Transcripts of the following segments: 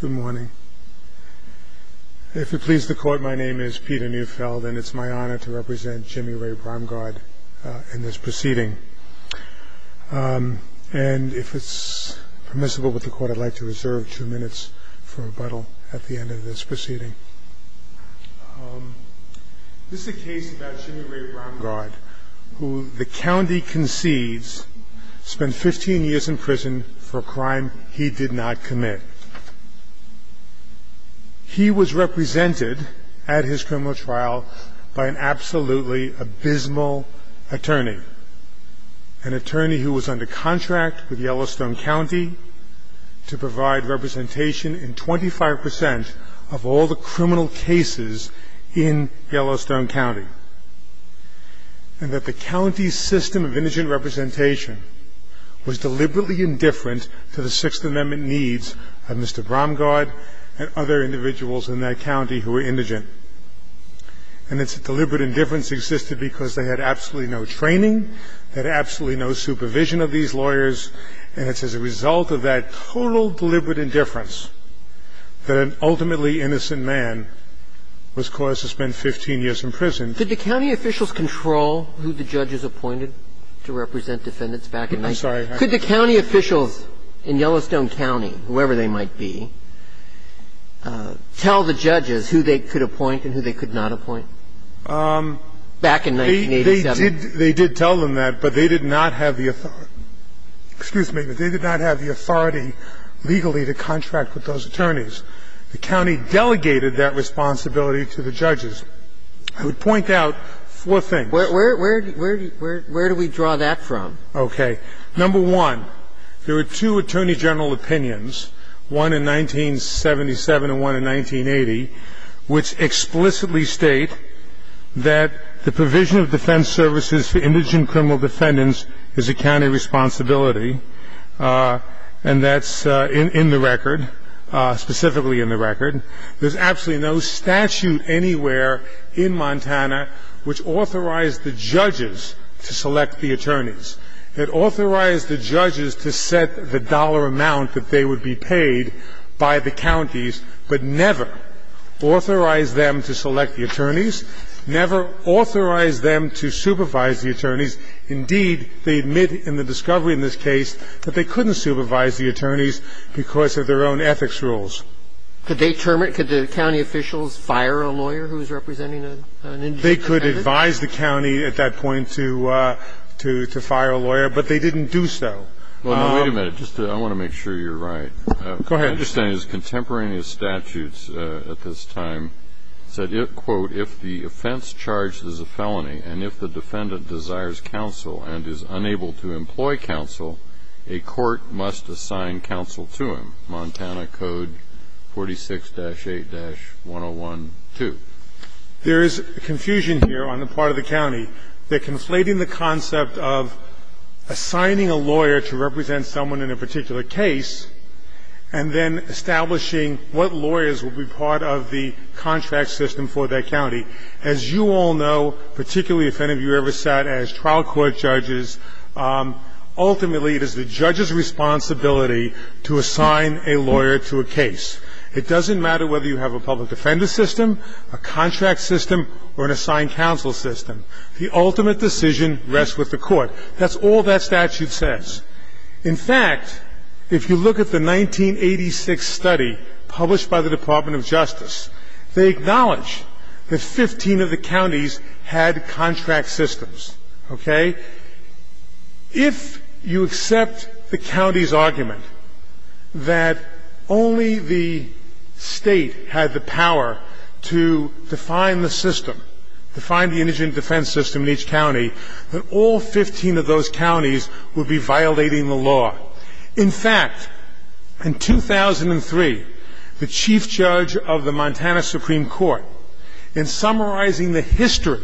Good morning. If it pleases the Court, my name is Peter Neufeld, and it's my honor to represent Jimmy Ray Bromgard in this proceeding. And if it's permissible with the Court, I'd like to reserve two minutes for rebuttal at the end of this proceeding. This is a case about Jimmy Ray Bromgard, who the county concedes spent 15 years in prison for a crime he did not commit. He was represented at his criminal trial by an absolutely abysmal attorney, an attorney who was under contract with Yellowstone County to provide representation in 25 percent of all the criminal cases in Yellowstone County, and that the county's system of indigent representation was deliberately indifferent to the Sixth Amendment needs of Mr. Bromgard and other individuals in that county who were indigent. And it's a deliberate indifference that existed because they had absolutely no training, they had absolutely no supervision of these lawyers, and it's as a result of that total deliberate indifference that an ultimately innocent man was caused to spend 15 years in prison. Did the county officials control who the judges appointed to represent defendants back in 19th? I'm sorry. Could the county officials in Yellowstone County, whoever they might be, tell the judges who they could appoint and who they could not appoint back in 1987? They did tell them that, but they did not have the authority. Excuse me, but they did not have the authority legally to contract with those attorneys. The county delegated that responsibility to the judges. I would point out four things. Where do we draw that from? Okay. Number one, there were two attorney general opinions, one in 1977 and one in 1980. Which explicitly state that the provision of defense services for indigent criminal defendants is a county responsibility. And that's in the record, specifically in the record. There's absolutely no statute anywhere in Montana which authorized the judges to select the attorneys. It authorized the judges to set the dollar amount that they would be paid by the counties, but never authorized them to select the attorneys, never authorized them to supervise the attorneys. Indeed, they admit in the discovery in this case that they couldn't supervise the attorneys because of their own ethics rules. Could they determine the county officials fire a lawyer who's representing an indigent defendant? They could advise the county at that point to fire a lawyer, but they didn't do so. I want to make sure you're right. Go ahead. My understanding is contemporaneous statutes at this time said, quote, if the offense charged is a felony and if the defendant desires counsel and is unable to employ counsel, a court must assign counsel to him, Montana Code 46-8-101-2. There is confusion here on the part of the county. They're conflating the concept of assigning a lawyer to represent someone in a particular case and then establishing what lawyers will be part of the contract system for that county. As you all know, particularly if any of you ever sat as trial court judges, ultimately it is the judge's responsibility to assign a lawyer to a case. It doesn't matter whether you have a public defender system, a contract system, or an assigned counsel system. The ultimate decision rests with the court. That's all that statute says. In fact, if you look at the 1986 study published by the Department of Justice, they acknowledge that 15 of the counties had contract systems, okay? If you accept the county's argument that only the state had the power to define the system, define the indigent defense system in each county, that all 15 of those counties would be violating the law. In fact, in 2003, the chief judge of the Montana Supreme Court, in summarizing the history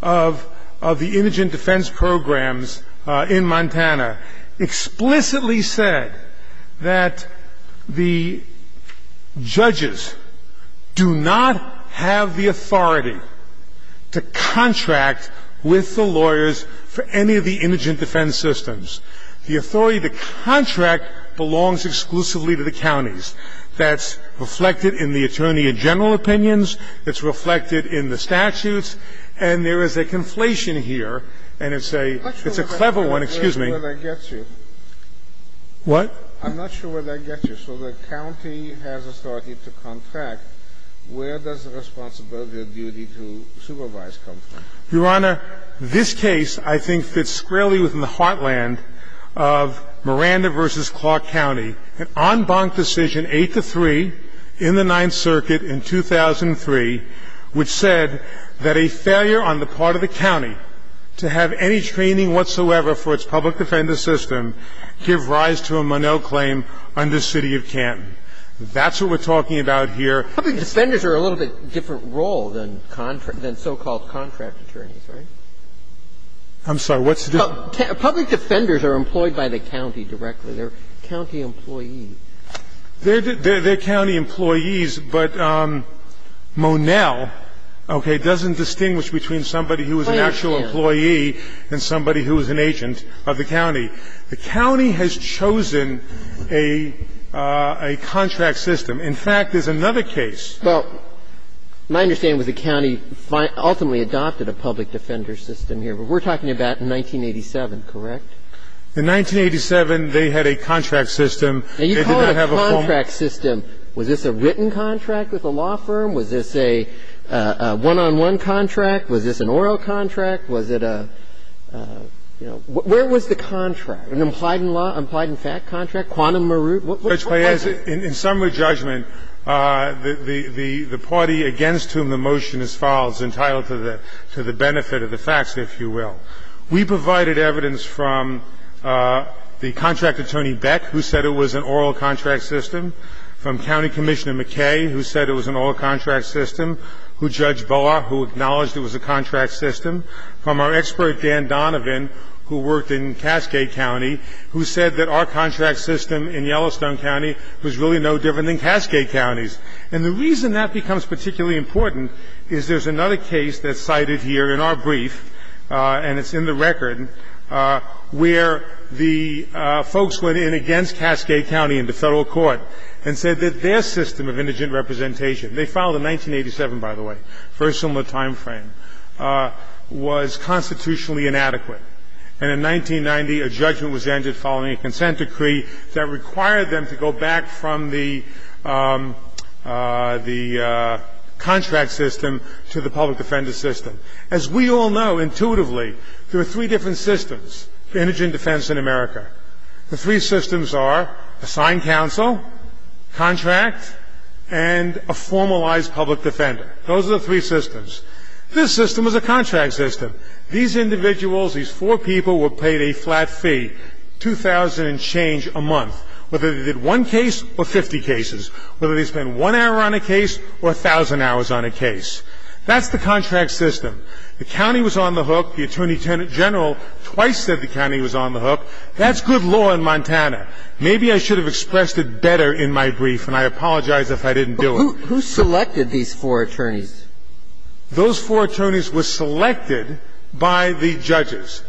of the indigent defense programs in Montana, explicitly said that the judges do not have the authority to contract with the lawyers for any of the indigent defense systems. The authority to contract belongs exclusively to the counties. That's reflected in the attorney in general opinions. It's reflected in the statutes. And there is a conflation here, and it's a clever one. Excuse me. Scalia. I'm not sure where that gets you. What? I'm not sure where that gets you. So the county has authority to contract. Where does the responsibility or duty to supervise come from? Your Honor, this case, I think, fits squarely within the heartland of Miranda versus Clark County. An en banc decision, eight to three, in the Ninth Circuit in 2003, which said that a failure on the part of the county to have any training whatsoever for its public defender system give rise to a Monell claim under city of Canton. That's what we're talking about here. Public defenders are a little bit different role than so-called contract attorneys, right? I'm sorry. What's the difference? Public defenders are employed by the county directly. They're county employees. They're county employees, but Monell, okay, doesn't distinguish between somebody who is an actual employee and somebody who is an agent of the county. The county has chosen a contract system. In fact, there's another case. Well, my understanding is the county ultimately adopted a public defender system here. But we're talking about 1987, correct? In 1987, they had a contract system. They did not have a form. Now, you call it a contract system. Was this a written contract with a law firm? Was this a one-on-one contract? Was this an oral contract? Was it a – you know, where was the contract? An implied in law – implied in fact contract? Quantum Maroot? What was it? In summary judgment, the party against whom the motion is filed is entitled to the benefit of the facts, if you will. We provided evidence from the contract attorney Beck, who said it was an oral contract system, from County Commissioner McKay, who said it was an oral contract system, who judged Barr, who acknowledged it was a contract system, from our expert Dan Donovan, who worked in Cascade County, who said that our contract system in Yellowstone County was really no different than Cascade County's. And the reason that becomes particularly important is there's another case that's cited here in our brief, and it's in the record, where the folks went in against Cascade County in the Federal Court and said that their system of indigent representation – they filed in 1987, by the way, very similar time frame – was constitutionally inadequate. And in 1990, a judgment was entered following a consent decree that required them to go back from the contract system to the public defender system. As we all know, intuitively, there are three different systems, indigent defense in America. The three systems are assigned counsel, contract, and a formalized public defender. Those are the three systems. This system is a contract system. These individuals, these four people, were paid a flat fee, $2,000 and change a month, whether they did one case or 50 cases, whether they spent one hour on a case or 1,000 hours on a case. That's the contract system. The county was on the hook. The attorney general twice said the county was on the hook. That's good law in Montana. Maybe I should have expressed it better in my brief, and I apologize if I didn't do it. But who selected these four attorneys? Those four attorneys were selected by the judges,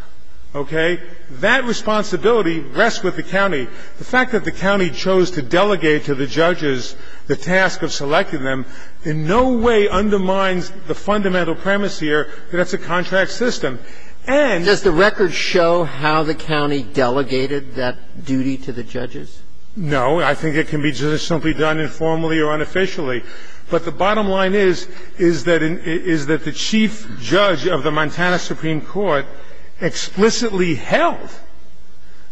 okay? That responsibility rests with the county. The fact that the county chose to delegate to the judges the task of selecting them in no way undermines the fundamental premise here that it's a contract system. And does the record show how the county delegated that duty to the judges? No. I think it can be done just simply done informally or unofficially. But the bottom line is that the Chief Judge of the Montana Supreme Court explicitly held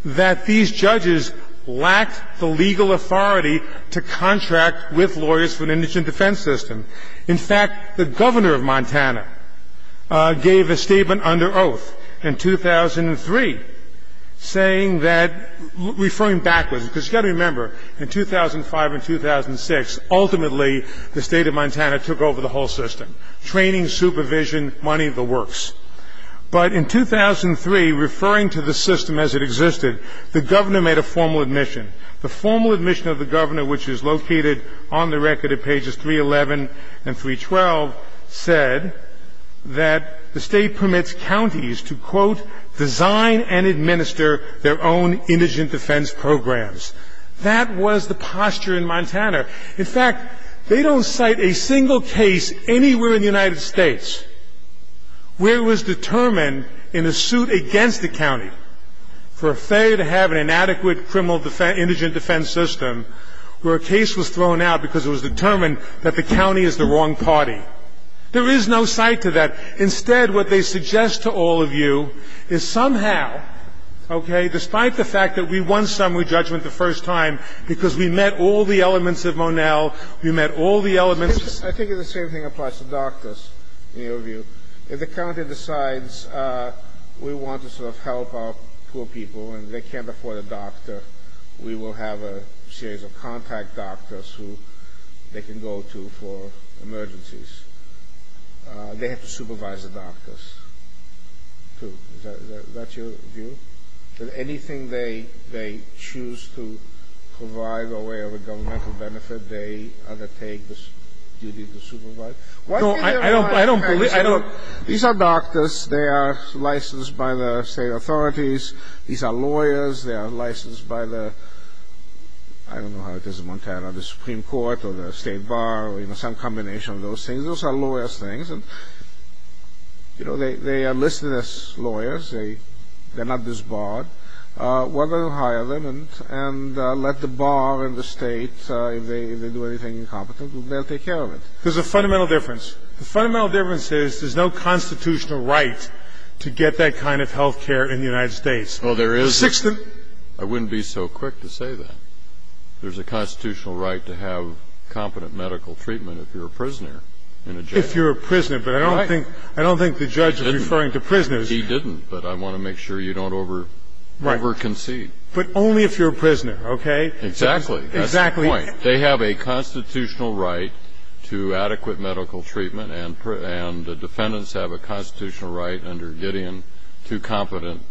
that these judges lacked the legal authority to contract with lawyers for an indigent defense system. In fact, the governor of Montana gave a statement under oath in 2003 saying that, referring backwards, because you've got to remember, in 2005 and 2006, ultimately, the state of Montana took over the whole system, training, supervision, money, the works. But in 2003, referring to the system as it existed, the governor made a formal admission. The formal admission of the governor, which is located on the record at pages 311 and 312, said that the state permits counties to, quote, design and administer their own indigent defense programs. That was the posture in Montana. In fact, they don't cite a single case anywhere in the United States where it was determined in a suit against a county for a failure to have an inadequate criminal indigent defense system, where a case was thrown out because it was determined that the county is the wrong party. There is no cite to that. Instead, what they suggest to all of you is somehow, okay, despite the fact that we won summary judgment the first time because we met all the elements of Monell, we met all the elements of the Supreme Court. I think the same thing applies to doctors, in your view. If the county decides we want to sort of help our poor people and they can't afford a doctor, we will have a series of contact doctors who they can go to for emergencies. They have to supervise the doctors, too. Is that your view? That anything they choose to provide or where the governmental benefit, they undertake this duty to supervise? Why do you think they're not? I don't believe it. I don't. These are doctors. They are licensed by the state authorities. These are lawyers. They are licensed by the, I don't know how it is in Montana, the Supreme Court or the state bar or some combination of those things. Those are lawyers' things. They are listed as lawyers. They're not disbarred. Why don't they hire them and let the bar and the state, if they do anything incompetent, they'll take care of it. There's a fundamental difference. The fundamental difference is there's no constitutional right to get that kind of health care in the United States. Well, there is. I wouldn't be so quick to say that. There's a constitutional right to have competent medical treatment if you're a prisoner in a jail. If you're a prisoner. But I don't think the judge is referring to prisoners. He didn't. But I want to make sure you don't over-concede. But only if you're a prisoner, okay? Exactly. Exactly. That's the point. They have a constitutional right to adequate medical treatment and the defendants have a constitutional right under Gideon to competent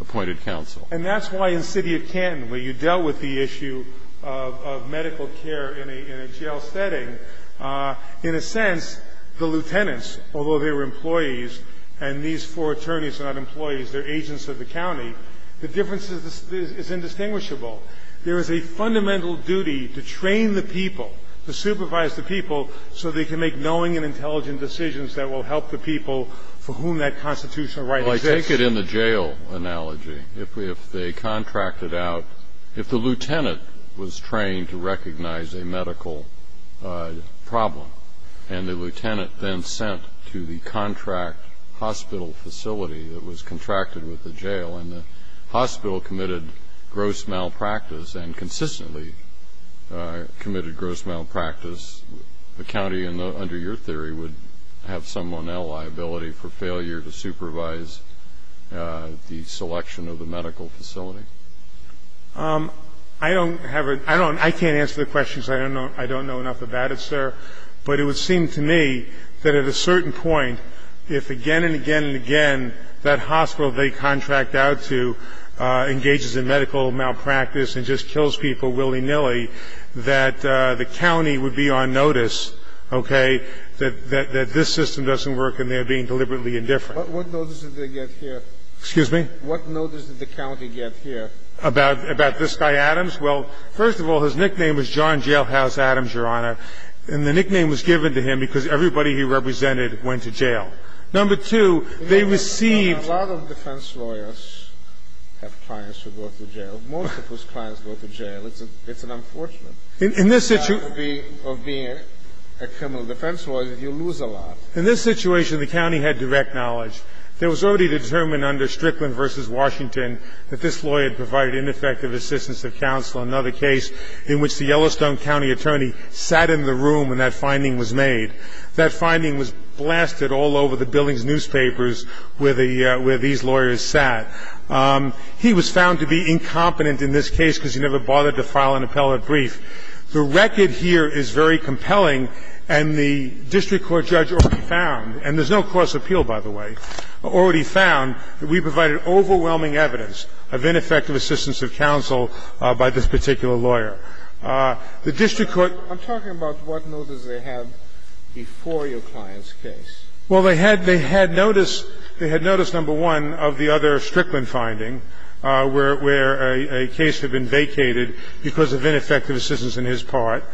appointed counsel. And that's why in the city of Canton, where you dealt with the issue of medical care in a jail setting, in a sense, the lieutenants, although they were employees and these four attorneys are not employees, they're agents of the county, the difference is indistinguishable. There is a fundamental duty to train the people, to supervise the people so they can make knowing and intelligent decisions that will help the people for whom that constitutional right exists. Well, I take it in the jail analogy. If they contracted out, if the lieutenant was trained to recognize a medical problem and the lieutenant then sent to the contract hospital facility that was contracted with the jail and the hospital committed gross malpractice and consistently committed gross malpractice, the county, under your theory, would have some or now liability for failure to supervise the selection of the medical facility. I don't have a ‑‑ I can't answer the question because I don't know enough about it, sir. But it would seem to me that at a certain point, if again and again and again that hospital they contract out to engages in medical malpractice and just kills people willy‑nilly, that the county would be on notice, okay, that this system doesn't work and they're being deliberately indifferent. But what notice did they get here? Excuse me? What notice did the county get here? About this guy Adams? Well, first of all, his nickname was John Jailhouse Adams, Your Honor, and the nickname was given to him because everybody he represented went to jail. Number two, they received ‑‑ A lot of defense lawyers have clients who go to jail. Most of those clients go to jail. It's an unfortunate ‑‑ In this ‑‑‑‑ of being a criminal defense lawyer, you lose a lot. In this situation, the county had direct knowledge. There was already determined under Strickland v. Washington that this lawyer had provided ineffective assistance of counsel in another case in which the Yellowstone County attorney sat in the room when that finding was made. That finding was blasted all over the building's newspapers where these lawyers sat. He was found to be incompetent in this case because he never bothered to file an appellate brief. The record here is very compelling, and the district court judge already found, and there's no cross appeal, by the way, already found that we provided overwhelming evidence of ineffective assistance of counsel by this particular lawyer. The district court ‑‑ I'm talking about what notice they had before your client's case. Well, they had ‑‑ they had notice ‑‑ they had notice, number one, of the other Strickland finding where a case had been vacated because of ineffective assistance in his part.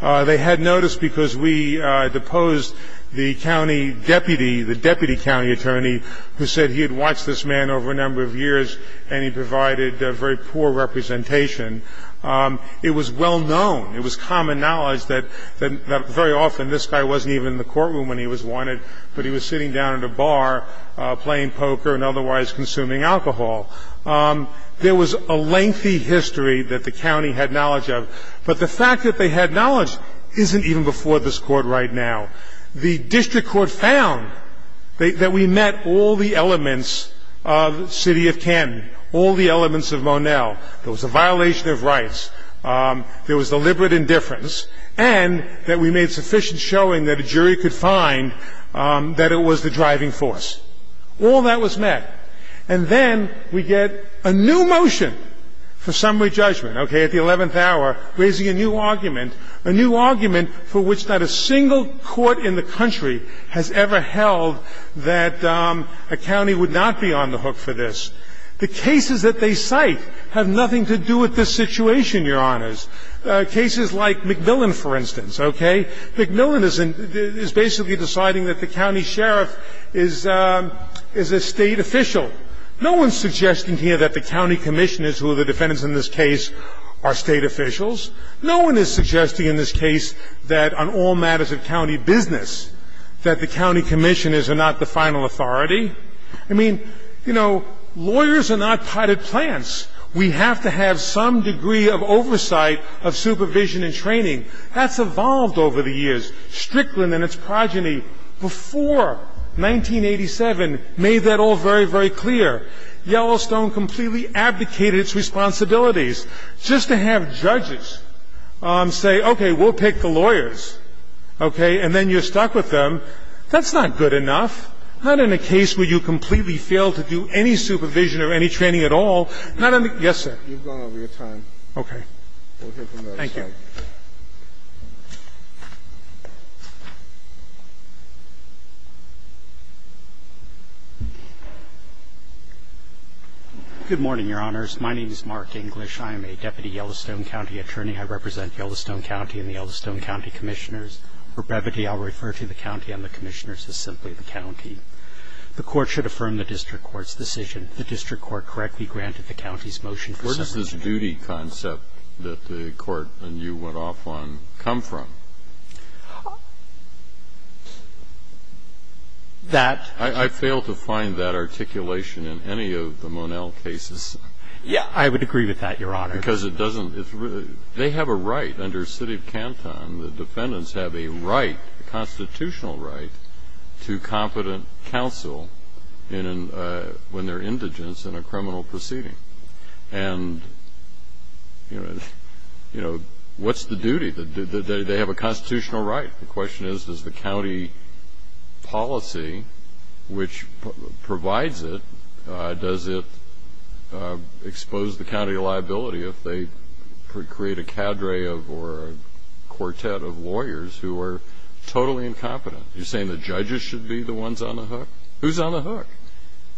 They had notice because we deposed the county deputy, the deputy county attorney, who said he had watched this man over a number of years and he provided very poor representation. It was well known. It was common knowledge that very often this guy wasn't even in the courtroom when he was wanted, but he was sitting down at a bar playing poker and otherwise consuming alcohol. There was a lengthy history that the county had knowledge of. But the fact that they had knowledge isn't even before this Court right now. The district court found that we met all the elements of City of Ken, all the elements of Monell. There was a violation of rights, there was deliberate indifference, and that we made sufficient showing that a jury could find that it was the driving force. All that was met. And then we get a new motion for summary judgment, okay, at the 11th hour, raising a new argument, a new argument for which not a single court in the country has ever held that a county would not be on the hook for this. The cases that they cite have nothing to do with this situation, Your Honors. Cases like McMillan, for instance, okay? McMillan is basically deciding that the county sheriff is a State official. No one is suggesting here that the county commissioners, who are the defendants in this case, are State officials. No one is suggesting in this case that on all matters of county business that the county commissioners are not the final authority. I mean, you know, lawyers are not potted plants. We have to have some degree of oversight of supervision and training. That's evolved over the years. Strickland and its progeny, before 1987, made that all very, very clear. Yellowstone completely abdicated its responsibilities. Just to have judges say, okay, we'll pick the lawyers, okay, and then you're stuck with them, that's not good enough. Not in a case where you completely fail to do any supervision or any training at all. Yes, sir? You've gone over your time. Okay. We'll hear from the other side. Thank you. Good morning, Your Honors. My name is Mark English. I am a deputy Yellowstone County attorney. I represent Yellowstone County and the Yellowstone County commissioners. For brevity, I'll refer to the county and the commissioners as simply the county. The court should affirm the district court's decision. The district court correctly granted the county's motion for submission. Where does this duty concept that the court and you went off on come from? That- I fail to find that articulation in any of the Monel cases. Yeah, I would agree with that, Your Honor. Because it doesn't, it's really, they have a right under city of Canton. The defendants have a right, a constitutional right, to competent counsel when they're indigents in a criminal proceeding. And what's the duty? They have a constitutional right. The question is, does the county policy which provides it, does it expose the county liability if they create a cadre of, or a quartet of lawyers who are totally incompetent? You're saying the judges should be the ones on the hook? Who's on the hook?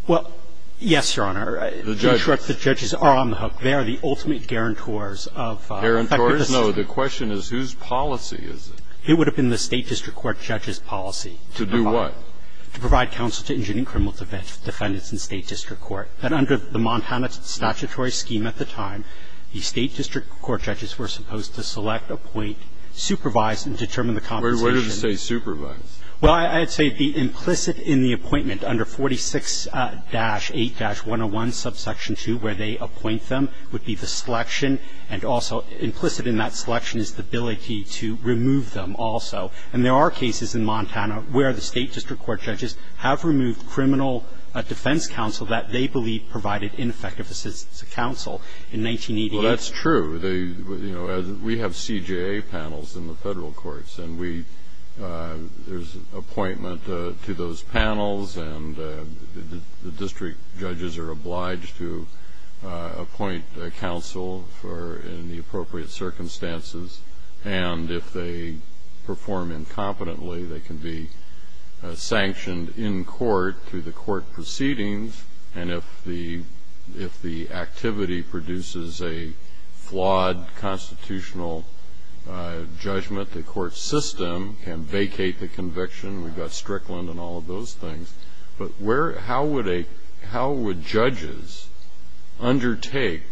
Well, yes, Your Honor. The judges. In short, the judges are on the hook. They are the ultimate guarantors of- Guarantors? No, the question is, whose policy is it? It would have been the state district court judge's policy. To do what? To provide counsel to indigent and criminal defendants in state district court. And under the Montana statutory scheme at the time, the state district court judges were supposed to select, appoint, supervise, and determine the compensation. What does it say, supervise? Well, I'd say the implicit in the appointment under 46-8-101, subsection 2, where they appoint them, would be the selection. And also implicit in that selection is the ability to remove them also. And there are cases in Montana where the state district court judges have removed criminal defense counsel that they believe provided ineffective assistance to counsel in 1988. Well, that's true. We have CJA panels in the federal courts. And there's an appointment to those panels. And the district judges are obliged to appoint counsel in the appropriate circumstances. And if they perform incompetently, they can be sanctioned in court through the court proceedings. And if the activity produces a flawed constitutional judgment, the court system can vacate the conviction. We've got Strickland and all of those things. But how would judges undertake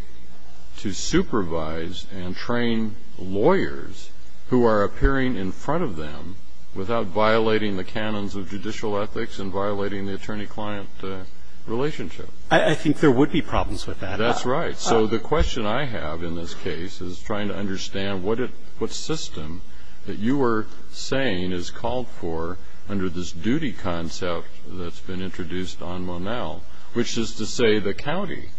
to supervise and train lawyers who are appearing in front of them without violating the canons of judicial ethics and violating the attorney-client relationship? I think there would be problems with that. That's right. So the question I have in this case is trying to understand what system that you were saying is called for under this duty concept that's been introduced on Monel, which is to say the county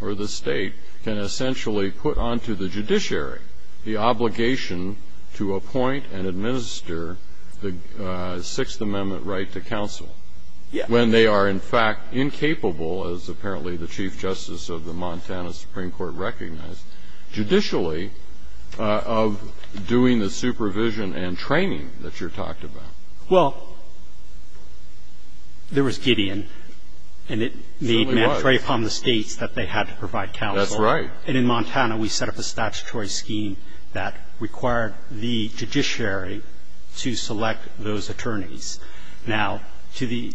or the state can essentially put onto the judiciary the obligation to appoint and administer the Sixth Amendment right to when they are, in fact, incapable, as apparently the Chief Justice of the Montana Supreme Court recognized, judicially, of doing the supervision and training that you're talking about. Well, there was Gideon. And it made mandatory upon the states that they had to provide counsel. That's right. And in Montana, we set up a statutory scheme that required the judiciary to select those attorneys. Now, to the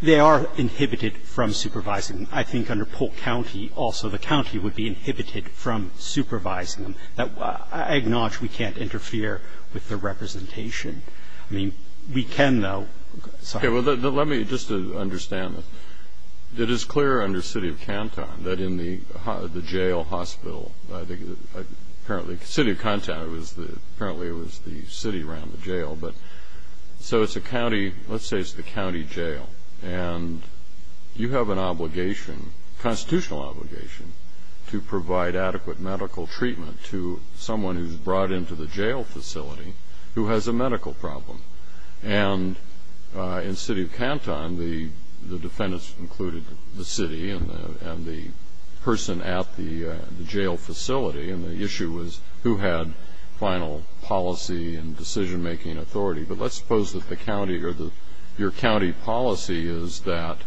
they are inhibited from supervising. I think under Polk County also the county would be inhibited from supervising them. I acknowledge we can't interfere with the representation. I mean, we can, though. Okay. Well, let me just understand. It is clear under city of Canton that in the jail hospital, I think, apparently it was the city around the jail. But so it's a county, let's say it's the county jail. And you have an obligation, constitutional obligation, to provide adequate medical treatment to someone who's brought into the jail facility who has a medical problem. And in city of Canton, the defendants included the city and the person at the jail facility. And the issue was who had final policy and decision-making authority. But let's suppose that the county or your county policy is that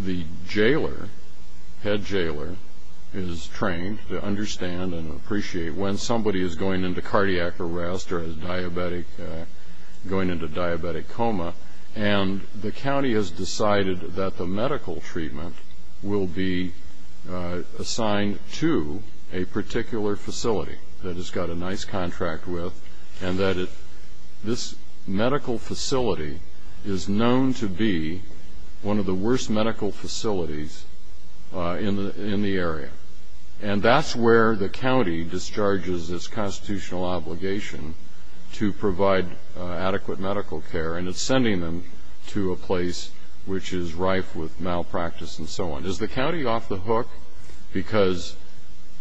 the jailer, head jailer, is trained to understand and appreciate when somebody is going into cardiac arrest or is going into diabetic coma. And the county has decided that the medical treatment will be assigned to a particular facility that it's got a nice contract with and that this medical facility is known to be one of the worst medical facilities in the area. And that's where the county discharges its constitutional obligation to provide adequate medical care. And it's sending them to a place which is rife with malpractice and so on. Is the county off the hook because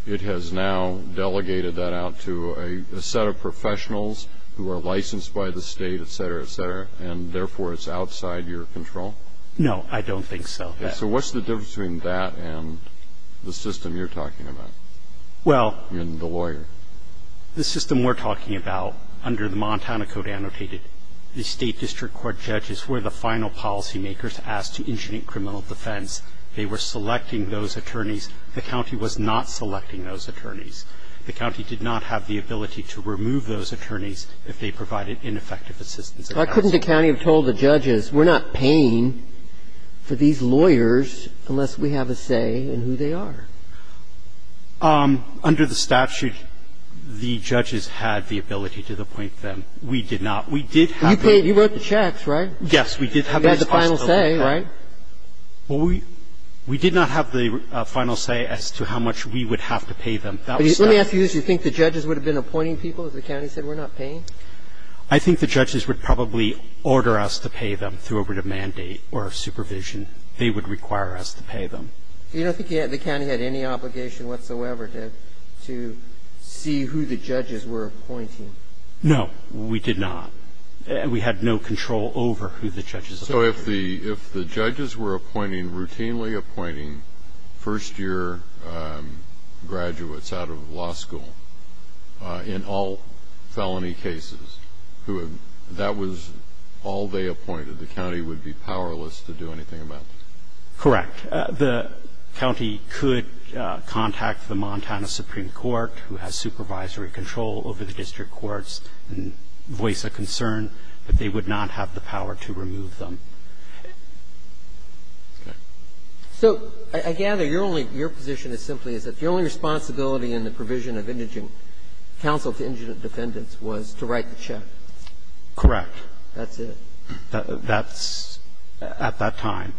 it has now delegated that out to a set of professionals who are licensed by the state, et cetera, et cetera, and therefore it's outside your control? No, I don't think so. So what's the difference between that and the system you're talking about? Well, the system we're talking about under the Montana Code annotated, the state district court judges were the final policy makers asked to initiate criminal defense. They were selecting those attorneys. The county was not selecting those attorneys. The county did not have the ability to remove those attorneys if they provided ineffective assistance. Why couldn't the county have told the judges, we're not paying for these lawyers unless we have a say in who they are? Under the statute, the judges had the ability to appoint them. We did not. You wrote the checks, right? Yes, we did have the responsibility. You had the final say, right? Well, we did not have the final say as to how much we would have to pay them. Let me ask you this. You think the judges would have been appointing people if the county said, we're not paying? I think the judges would probably order us to pay them through a written mandate or supervision. They would require us to pay them. You don't think the county had any obligation whatsoever to see who the judges were appointing? No, we did not. We had no control over who the judges were appointing. So if the judges were appointing, routinely appointing, first year graduates out of law school in all felony cases, that was all they appointed. The county would be powerless to do anything about it? Correct. The county could contact the Montana Supreme Court, who has supervisory control over the district courts, and voice a concern that they would not have the power to remove them. Okay. So I gather your only – your position is simply is that the only responsibility in the provision of indigent counsel to indigent defendants was to write the check? Correct. That's it? That's – at that time.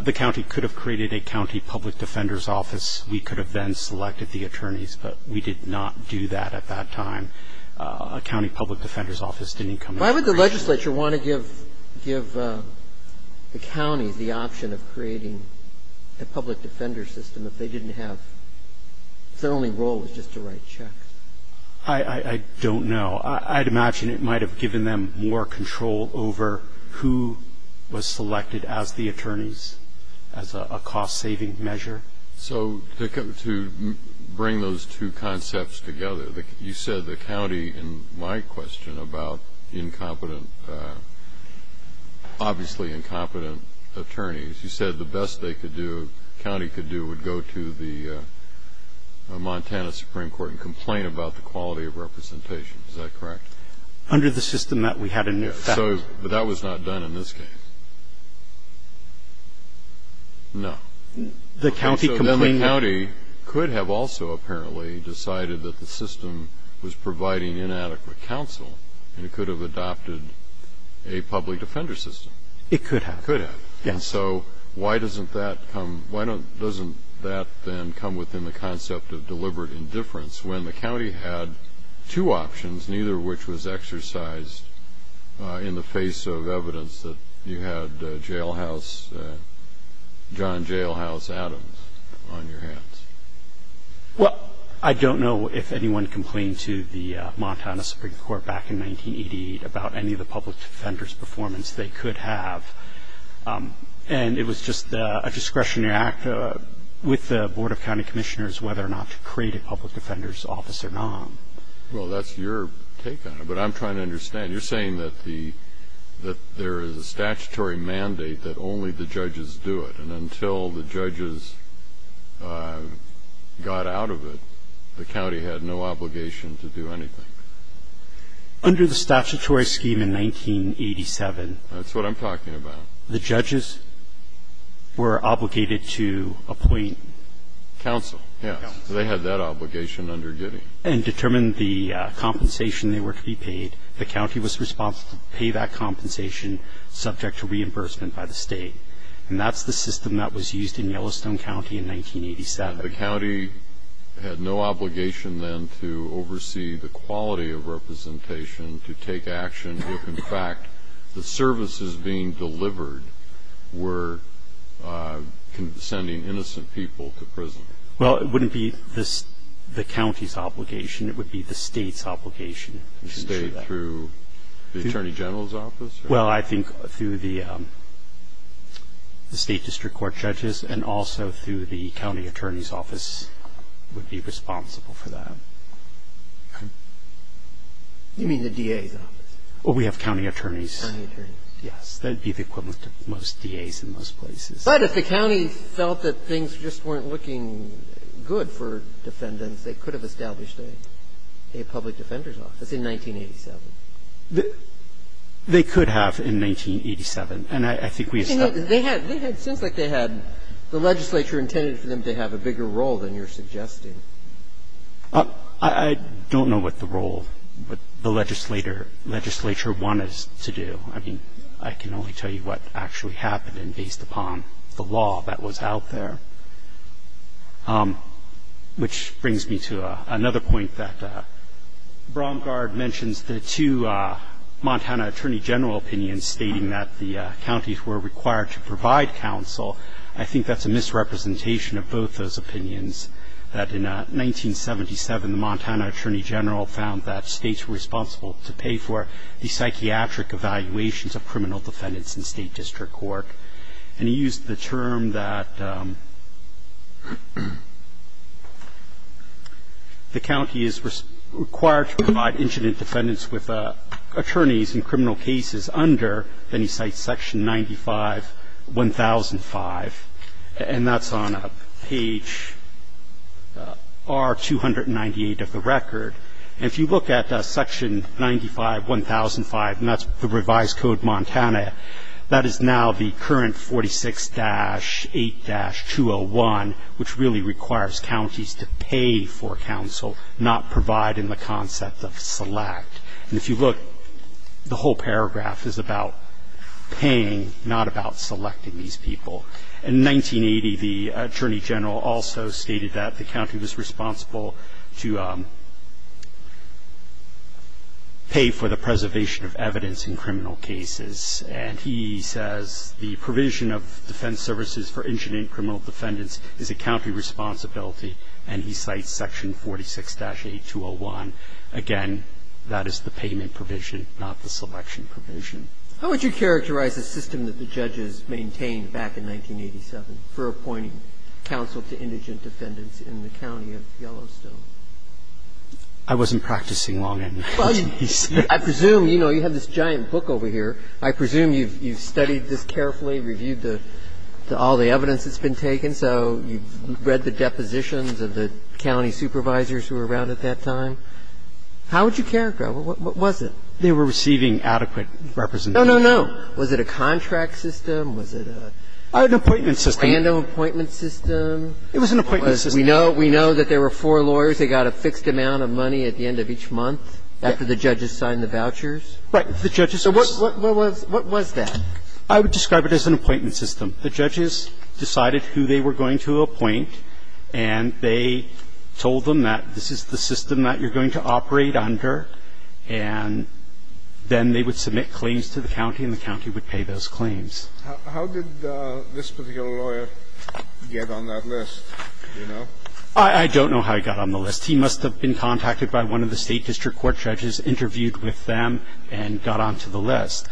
The county could have created a county public defender's office. We could have then selected the attorneys, but we did not do that at that time. A county public defender's office didn't come into creation. Why would the legislature want to give the county the option of creating a public defender's system if they didn't have – if their only role was just to write checks? I don't know. I'd imagine it might have given them more control over who was selected as the attorneys as a cost-saving measure. So to bring those two concepts together, you said the county, in my question about incompetent – obviously incompetent attorneys, you said the best they could do, the county could do, would go to the Montana Supreme Court and complain about the quality of representation. Is that correct? Under the system that we had in effect. But that was not done in this case? No. The county could have also apparently decided that the system was providing inadequate counsel, and it could have adopted a public defender's system. It could have. It could have. And so why doesn't that come – why doesn't that then come within the concept of deliberate indifference when the county had two options, neither of which was Well, I don't know if anyone complained to the Montana Supreme Court back in 1988 about any of the public defender's performance they could have. And it was just a discretionary act with the Board of County Commissioners whether or not to create a public defender's office or not. Well, that's your take on it. But I'm trying to understand. You're saying that the – that there is a statutory mandate that only the judges do it, and until the judges got out of it, the county had no obligation to do anything? Under the statutory scheme in 1987. That's what I'm talking about. The judges were obligated to appoint counsel. Yes. Counsel. They had that obligation under Giddey. And determine the compensation they were to be paid. The county was responsible to pay that compensation subject to reimbursement by the State. And that's the system that was used in Yellowstone County in 1987. The county had no obligation then to oversee the quality of representation to take action if, in fact, the services being delivered were sending innocent people to prison. Well, it wouldn't be the county's obligation. It would be the state's obligation. State through the Attorney General's office? Well, I think through the State District Court judges, and also through the county attorney's office would be responsible for that. You mean the DA's office? Well, we have county attorneys. Yes. That would be the equivalent of most DA's in most places. But if the county felt that things just weren't looking good for defendants, they could have established a public defender's office in 1987. They could have in 1987. And I think we established that. They had the legislature intended for them to have a bigger role than you're suggesting. I don't know what the role the legislature wanted us to do. I mean, I can only tell you what actually happened based upon the law that was out there. Which brings me to another point that Braungard mentions the two Montana Attorney General opinions stating that the counties were required to provide counsel. I think that's a misrepresentation of both those opinions. That in 1977, the Montana Attorney General found that states were responsible to pay for the psychiatric evaluations of criminal defendants in State District Court. And he used the term that the county is required to provide incident defendants with attorneys in criminal cases under, then he cites Section 95-1005. And that's on page R-298 of the record. And if you look at Section 95-1005, and that's the revised code Montana, that is now the current 46-8-201, which really requires counties to pay for counsel, not provide in the concept of select. And if you look, the whole paragraph is about paying, not about selecting these people. In 1980, the Attorney General also stated that the county was responsible to pay for the preservation of evidence in criminal cases. And he says the provision of defense services for incident criminal defendants is a county responsibility, and he cites Section 46-8-201. Again, that is the payment provision, not the selection provision. How would you characterize the system that the judges maintained back in 1987 for appointing counsel to indigent defendants in the county of Yellowstone? I wasn't practicing long-hand. I presume, you know, you have this giant book over here. I presume you've studied this carefully, reviewed all the evidence that's been taken. So you've read the depositions of the county supervisors who were around at that time. How would you characterize it? What was it? They were receiving adequate representation. No, no, no. Was it a contract system? Was it a random appointment system? It was an appointment system. We know that there were four lawyers. They got a fixed amount of money at the end of each month after the judges signed the vouchers. Right. The judges were so What was that? I would describe it as an appointment system. The judges decided who they were going to appoint, and they told them that this is the system that you're going to operate under, and then they would submit claims to the county, and the county would pay those claims. How did this particular lawyer get on that list? Do you know? I don't know how he got on the list. He must have been contacted by one of the state district court judges, interviewed with them, and got onto the list.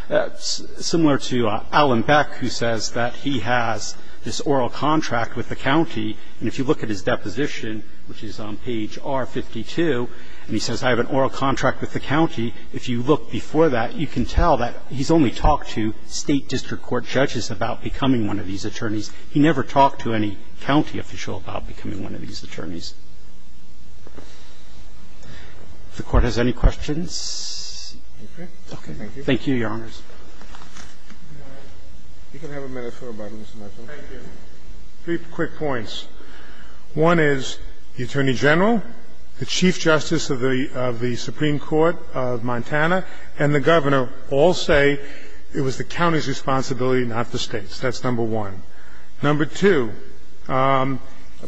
Similar to Alan Beck, who says that he has this oral contract with the county, and if you look at his deposition, which is on page R52, and he says, I have an oral contract with the county. If you look before that, you can tell that he's only talked to state district court judges about becoming one of these attorneys. He never talked to any county official about becoming one of these attorneys. If the Court has any questions. Okay. Thank you, Your Honors. You can have a minute for a moment, Mr. Marshall. Thank you. Three quick points. One is the Attorney General, the Chief Justice of the Supreme Court of Montana, and the Governor all say it was the county's responsibility, not the State's. That's number one. Number two. I'm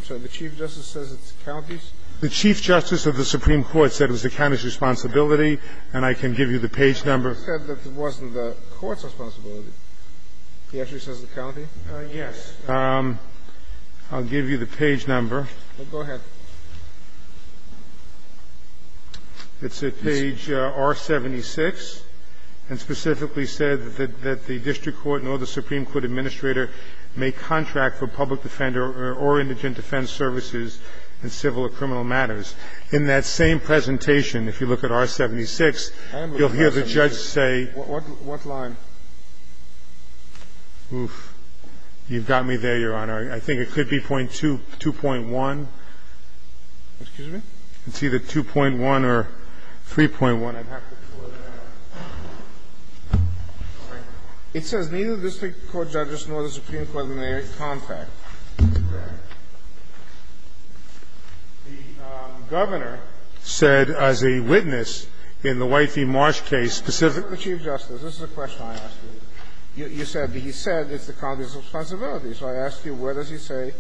sorry. The Chief Justice says it's the county's? The Chief Justice of the Supreme Court said it was the county's responsibility, and I can give you the page number. He said that it wasn't the court's responsibility. He actually says the county? Yes. I'll give you the page number. Go ahead. It's at page R-76, and specifically said that the district court nor the Supreme Court administrator may contract for public defender or indigent defense services in civil or criminal matters. In that same presentation, if you look at R-76, you'll hear the judge say. What line? Oof, you've got me there, Your Honor. I think it could be point two, 2.1. Excuse me? It's either 2.1 or 3.1. I'd have to pull it out. It says neither the district court judges nor the Supreme Court may contract. The Governor said as a witness in the White v. Marsh case, specific to the Chief Justice. This is a question I asked you. You said he said it's the county's responsibility. So I asked you, where does he say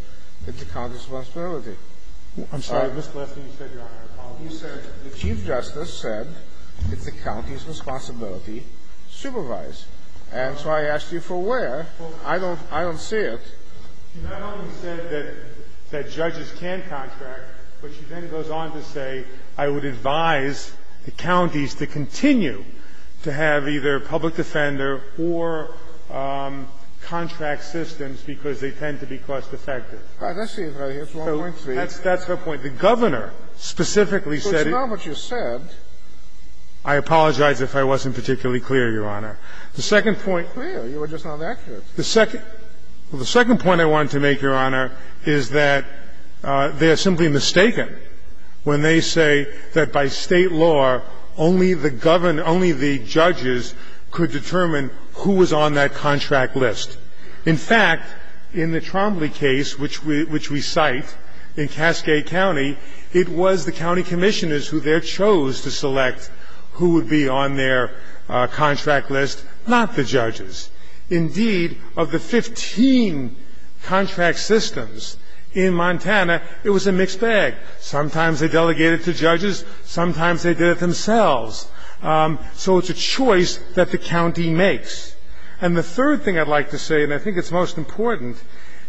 it's the county's responsibility? I'm sorry. Mr. Lesley, you said, Your Honor, you said the Chief Justice said it's the county's responsibility to supervise. And so I asked you for where. I don't see it. She not only said that judges can contract, but she then goes on to say, I would advise the counties to continue to have either public defender or contract systems because they tend to be cost-effective. All right. Let's see if I get 1.3. That's her point. The Governor specifically said it's not what you said. I apologize if I wasn't particularly clear, Your Honor. The second point. You were just not accurate. The second point I wanted to make, Your Honor, is that they are simply mistaken when they say that by State law, only the Governor, only the judges could determine who was on that contract list. In fact, in the Trombley case, which we cite in Cascade County, it was the county commissioners who there chose to select who would be on their contract list, not the judges. Indeed, of the 15 contract systems in Montana, it was a mixed bag. Sometimes they delegated to judges. Sometimes they did it themselves. So it's a choice that the county makes. And the third thing I'd like to say, and I think it's most important,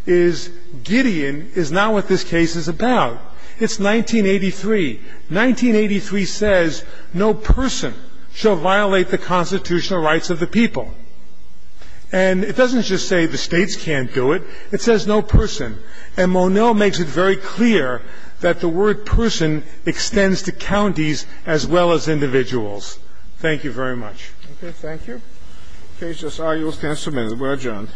is Gideon is not what this case is about. It's 1983. 1983 says no person shall violate the constitutional rights of the people. And it doesn't just say the States can't do it. It says no person. And Moneau makes it very clear that the word person extends to counties as well as individuals. Thank you very much. Thank you. Okay, judges. I'll use ten minutes. We're adjourned.